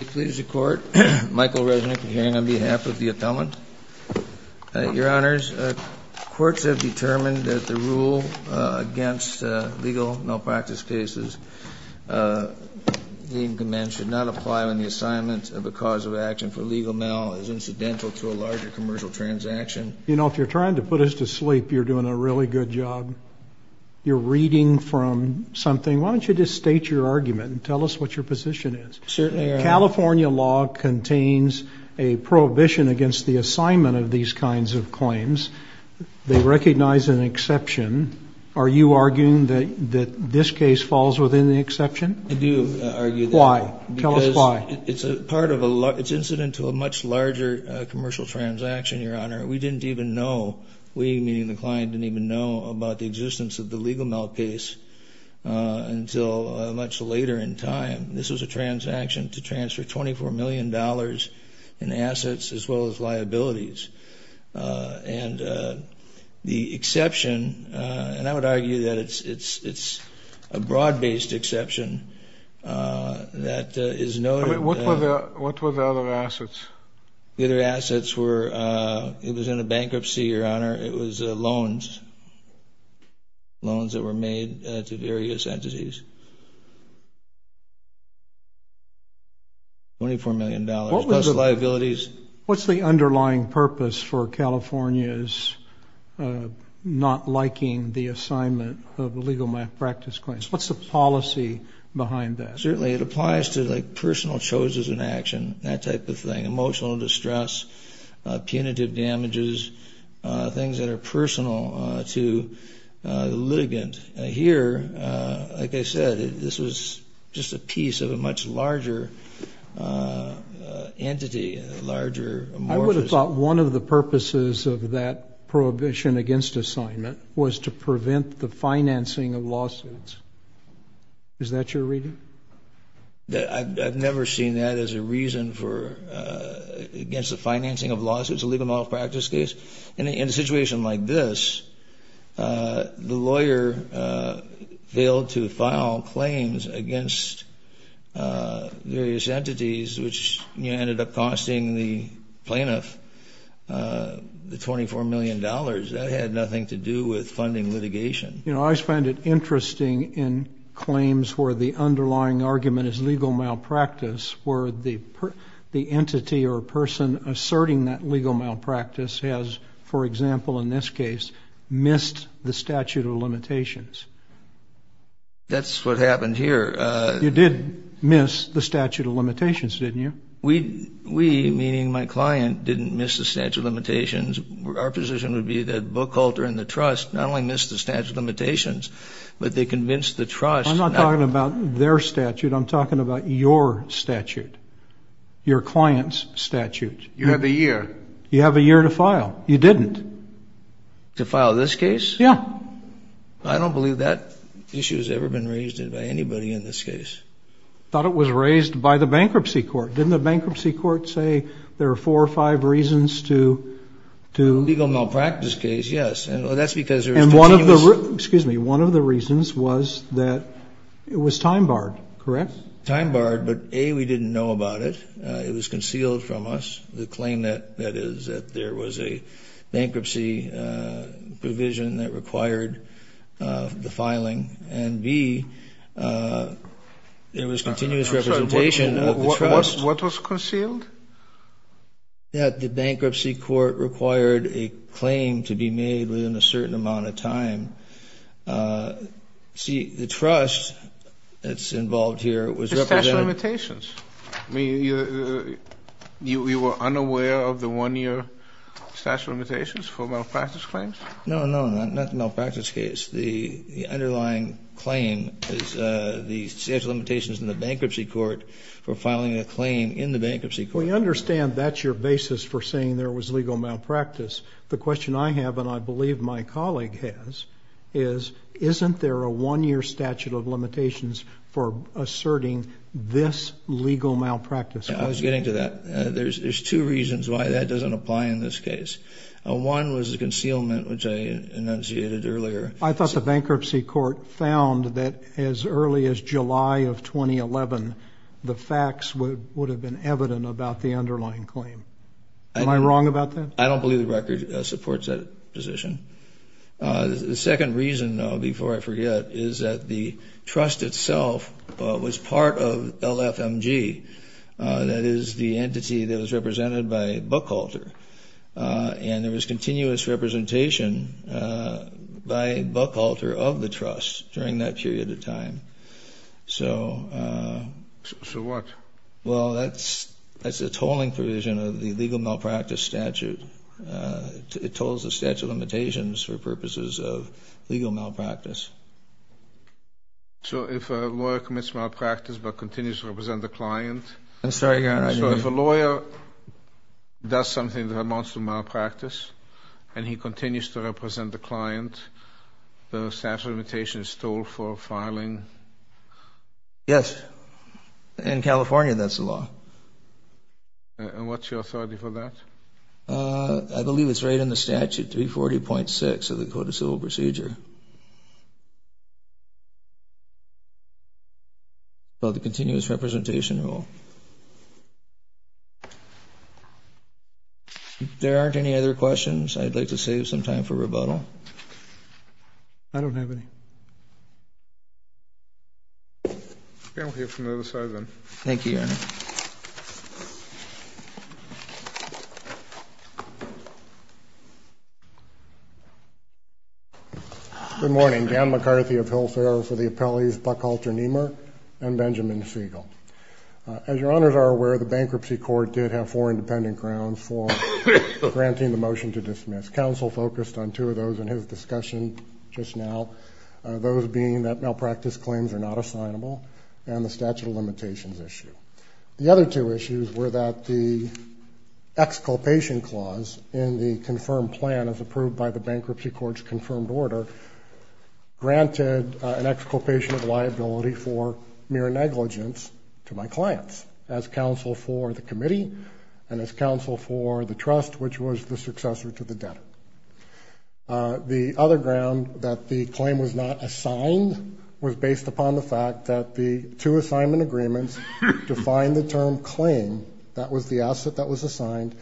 It pleases the Court, Michael Resnick, a hearing on behalf of the Attendant. Your Honors, Courts have determined that the rule against legal malpractice cases of the Indian Command should not apply when the assignment of a cause of action for legal mal is incidental to a larger commercial transaction. You know, if you're trying to put us to sleep, you're doing a really good job. You're reading from something. Why don't you just state your argument and tell us what your position is. California law contains a prohibition against the assignment of these kinds of claims. They recognize an exception. Are you arguing that this case falls within the exception? I do argue that. Why? Tell us why. Because it's incidental to a much larger commercial transaction, Your Honor. We didn't even know, we meaning the client, didn't even know about the existence of the legal mal case until much later in time. This was a transaction to transfer $24 million in assets as well as liabilities. And the exception, and I would argue that it's a broad-based exception that is noted. What were the other assets? The other assets were, it was in a bankruptcy, Your Honor. It was loans. Loans that were made to various entities. $24 million plus liabilities. What's the underlying purpose for California's not liking the assignment of legal malpractice claims? What's the policy behind that? Certainly it applies to like personal choices in action, that type of thing, emotional distress, punitive damages, things that are personal to the litigant. Here, like I said, this was just a piece of a much larger entity, a larger amorphous. I would have thought one of the purposes of that prohibition against assignment was to prevent the financing of lawsuits. Is that your reading? I've never seen that as a reason against the financing of lawsuits, a legal malpractice case. In a situation like this, the lawyer failed to file claims against various entities, which ended up costing the plaintiff the $24 million. That had nothing to do with funding litigation. You know, I always find it interesting in claims where the underlying argument is legal malpractice, where the entity or person asserting that legal malpractice has, for example, in this case, missed the statute of limitations. That's what happened here. You did miss the statute of limitations, didn't you? We, meaning my client, didn't miss the statute of limitations. Our position would be that Bookhalter and the trust not only missed the statute of limitations, but they convinced the trust. I'm not talking about their statute. I'm talking about your statute, your client's statute. You have a year. You have a year to file. You didn't. To file this case? Yeah. I don't believe that issue has ever been raised by anybody in this case. I thought it was raised by the bankruptcy court. Didn't the bankruptcy court say there are four or five reasons to? Legal malpractice case, yes. That's because there is continuous. Excuse me. One of the reasons was that it was time barred, correct? Time barred, but, A, we didn't know about it. It was concealed from us, the claim that is that there was a bankruptcy provision that required the filing. And, B, there was continuous representation of the trust. What was concealed? That the bankruptcy court required a claim to be made within a certain amount of time. See, the trust that's involved here was represented. The statute of limitations. You were unaware of the one-year statute of limitations for malpractice claims? No, no, not the malpractice case. The underlying claim is the statute of limitations in the bankruptcy court for filing a claim in the bankruptcy court. We understand that's your basis for saying there was legal malpractice. The question I have, and I believe my colleague has, is isn't there a one-year statute of limitations for asserting this legal malpractice? I was getting to that. There's two reasons why that doesn't apply in this case. One was the concealment, which I enunciated earlier. I thought the bankruptcy court found that as early as July of 2011, the facts would have been evident about the underlying claim. Am I wrong about that? I don't believe the record supports that position. The second reason, before I forget, is that the trust itself was part of LFMG. That is the entity that was represented by Bookhalter. And there was continuous representation by Bookhalter of the trust during that period of time. So what? Well, that's a tolling provision of the legal malpractice statute. It tolls the statute of limitations for purposes of legal malpractice. So if a lawyer commits malpractice but continues to represent the client? I'm sorry, Your Honor. So if a lawyer does something that amounts to malpractice and he continues to represent the client, the statute of limitations toll for filing? Yes. In California, that's the law. And what's your authority for that? I believe it's right in the statute, 340.6 of the Code of Civil Procedure. Thank you. About the continuous representation rule. If there aren't any other questions, I'd like to save some time for rebuttal. I don't have any. Okay, we'll hear from the other side then. Thank you, Your Honor. Good morning. Dan McCarthy of Hillsborough for the appellees Bookhalter Nehmer and Benjamin Siegel. As Your Honors are aware, the Bankruptcy Court did have four independent grounds for granting the motion to dismiss. Counsel focused on two of those in his discussion just now, those being that malpractice claims are not assignable and the statute of limitations issue. The other two issues were that the exculpation clause in the confirmed plan as approved by the Bankruptcy Court's confirmed order granted an exculpation of liability for mere negligence to my clients as counsel for the committee and as counsel for the trust, which was the successor to the debtor. The other ground that the claim was not assigned was based upon the fact that the two assignment agreements defined the term claim, that was the asset that was assigned,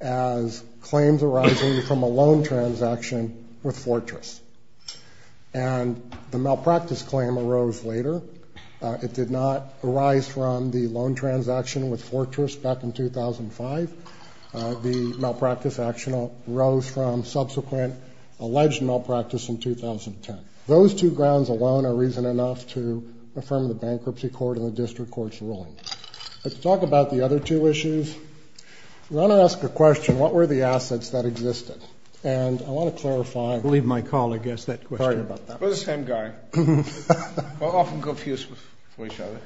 as claims arising from a loan transaction with Fortress. And the malpractice claim arose later. It did not arise from the loan transaction with Fortress back in 2005. The malpractice action arose from subsequent alleged malpractice in 2010. Those two grounds alone are reason enough to affirm the Bankruptcy Court and the District Court's ruling. Let's talk about the other two issues. Your Honor asked a question, what were the assets that existed? And I want to clarify. Leave my call, I guess, that question. Sorry about that. We're the same guy. We're often confused with each other.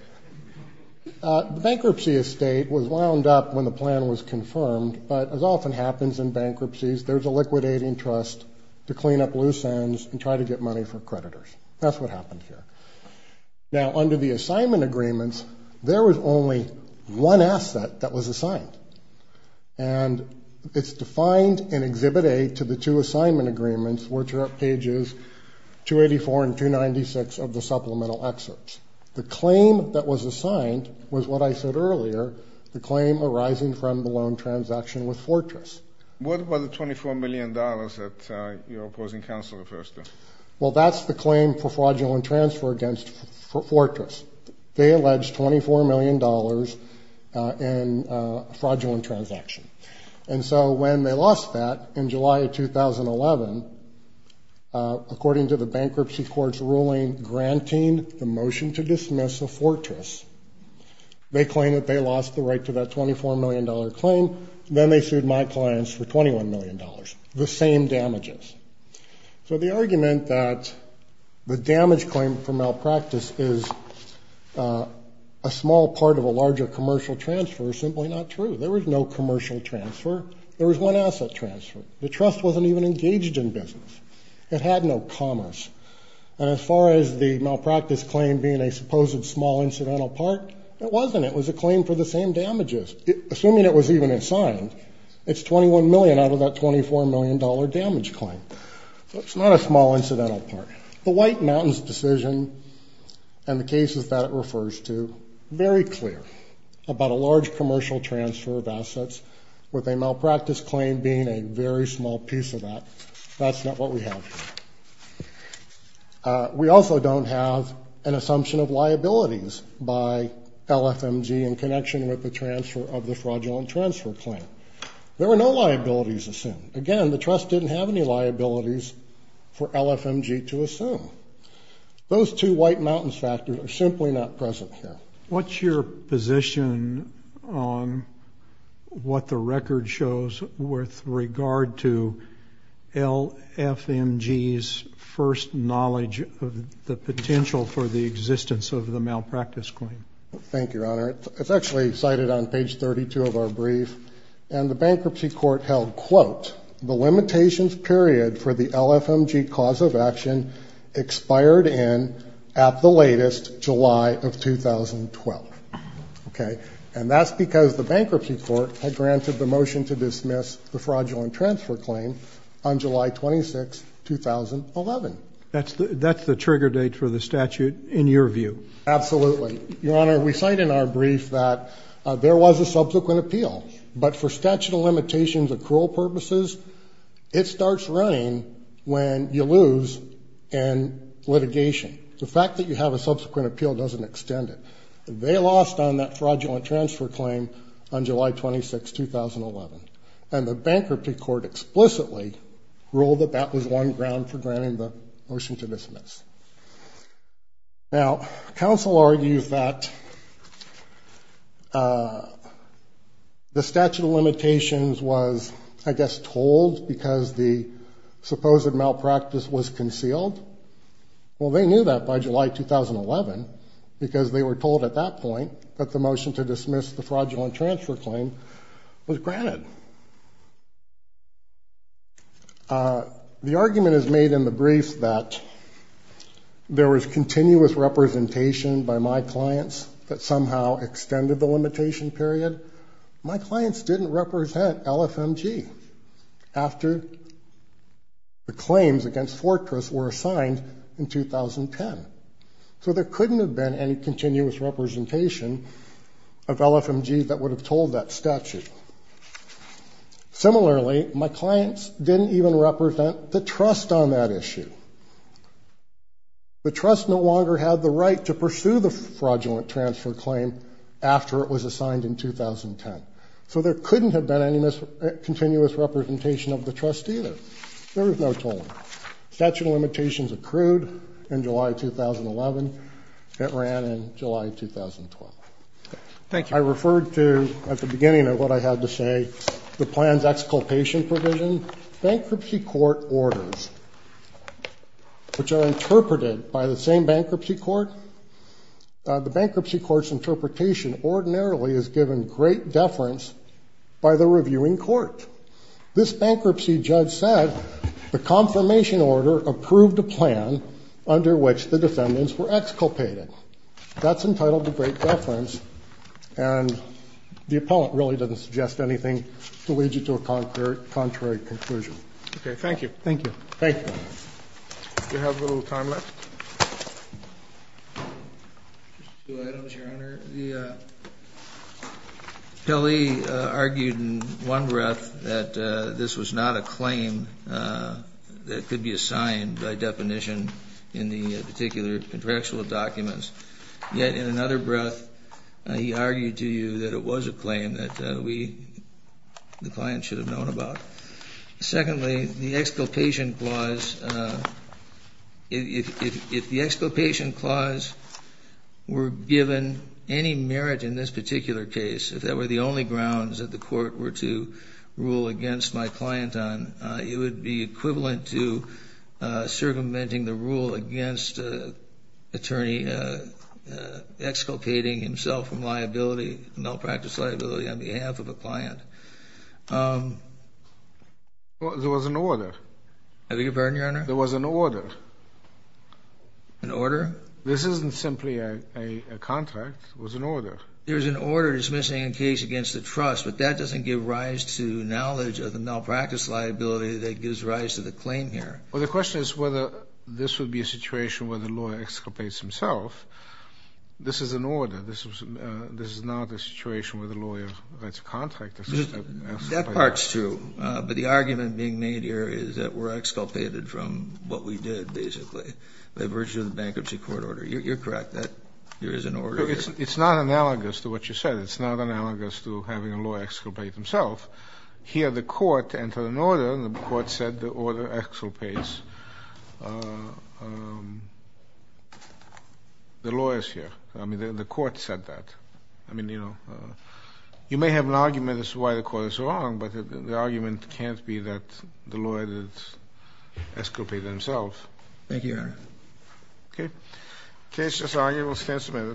The bankruptcy estate was wound up when the plan was confirmed, but as often happens in bankruptcies, there's a liquidating trust to clean up loose ends and try to get money for creditors. That's what happened here. Now, under the assignment agreements, there was only one asset that was assigned. And it's defined in Exhibit A to the two assignment agreements, which are at pages 284 and 296 of the supplemental excerpts. The claim that was assigned was what I said earlier, the claim arising from the loan transaction with Fortress. What about the $24 million that your opposing counsel refers to? Well, that's the claim for fraudulent transfer against Fortress. They alleged $24 million in a fraudulent transaction. And so when they lost that in July of 2011, according to the bankruptcy court's ruling granting the motion to dismiss the Fortress, they claim that they lost the right to that $24 million claim. Then they sued my clients for $21 million, the same damages. So the argument that the damage claim for malpractice is a small part of a larger commercial transfer is simply not true. There was no commercial transfer. There was one asset transfer. The trust wasn't even engaged in business. It had no commerce. And as far as the malpractice claim being a supposed small incidental part, it wasn't. It was a claim for the same damages. Assuming it was even assigned, it's $21 million out of that $24 million damage claim. So it's not a small incidental part. The White Mountains decision and the cases that it refers to, very clear about a large commercial transfer of assets with a malpractice claim being a very small piece of that. That's not what we have here. We also don't have an assumption of liabilities by LFMG in connection with the transfer of the fraudulent transfer claim. There were no liabilities assumed. Again, the trust didn't have any liabilities for LFMG to assume. Those two White Mountains factors are simply not present here. What's your position on what the record shows with regard to LFMG's first knowledge of the potential for the existence of the malpractice claim? Thank you, Your Honor. It's actually cited on page 32 of our brief. And the bankruptcy court held, quote, the limitations period for the LFMG cause of action expired in at the latest, July of 2012. Okay? And that's because the bankruptcy court had granted the motion to dismiss the fraudulent transfer claim on July 26, 2011. That's the trigger date for the statute in your view? Absolutely. Your Honor, we cite in our brief that there was a subsequent appeal. But for statute of limitations accrual purposes, it starts running when you lose in litigation. The fact that you have a subsequent appeal doesn't extend it. They lost on that fraudulent transfer claim on July 26, 2011. And the bankruptcy court explicitly ruled that that was one ground for granting the motion to dismiss. Now, counsel argues that the statute of limitations was, I guess, told because the supposed malpractice was concealed. Well, they knew that by July 2011 because they were told at that point that the motion to dismiss the fraudulent transfer claim was granted. The argument is made in the brief that there was continuous representation by my clients that somehow extended the limitation period. My clients didn't represent LFMG after the claims against Fortress were assigned in 2010. So there couldn't have been any continuous representation of LFMG that would have told that statute. Similarly, my clients didn't even represent the trust on that issue. The trust no longer had the right to pursue the fraudulent transfer claim after it was assigned in 2010. So there couldn't have been any continuous representation of the trust either. There was no tolling. Statute of limitations accrued in July 2011. It ran in July 2012. Thank you. I referred to, at the beginning of what I had to say, the plan's exculpation provision. Bankruptcy court orders, which are interpreted by the same bankruptcy court. The bankruptcy court's interpretation ordinarily is given great deference by the reviewing court. This bankruptcy judge said the confirmation order approved a plan under which the defendants were exculpated. That's entitled to great deference. And the appellant really doesn't suggest anything to lead you to a contrary conclusion. Okay. Thank you. Thank you. Thank you, Your Honor. Do you have a little time left? Just two items, Your Honor. Kelly argued in one breath that this was not a claim that could be assigned by definition in the particular contractual documents, yet in another breath he argued to you that it was a claim that we, the client, should have known about. Secondly, the exculpation clause, if the exculpation clause were given any merit in this particular case, if that were the only grounds that the court were to rule against my client on, it would be equivalent to circumventing the rule against an attorney exculpating himself from liability, malpractice liability on behalf of a client. There was an order. I beg your pardon, Your Honor? There was an order. An order? This isn't simply a contract. It was an order. There is an order dismissing a case against the trust, but that doesn't give rise to knowledge of the malpractice liability that gives rise to the claim here. Well, the question is whether this would be a situation where the lawyer exculpates himself. This is an order. This is not a situation where the lawyer writes a contract. That part's true, but the argument being made here is that we're exculpated from what we did, basically, by virtue of the bankruptcy court order. You're correct. There is an order. It's not analogous to what you said. It's not analogous to having a lawyer exculpate himself. Here, the court entered an order, and the court said the order exculpates the lawyers here. I mean, the court said that. I mean, you know, you may have an argument as to why the court is wrong, but the argument can't be that the lawyer exculpated himself. Thank you, Your Honor. Okay. The case is arguable. The case is arguable.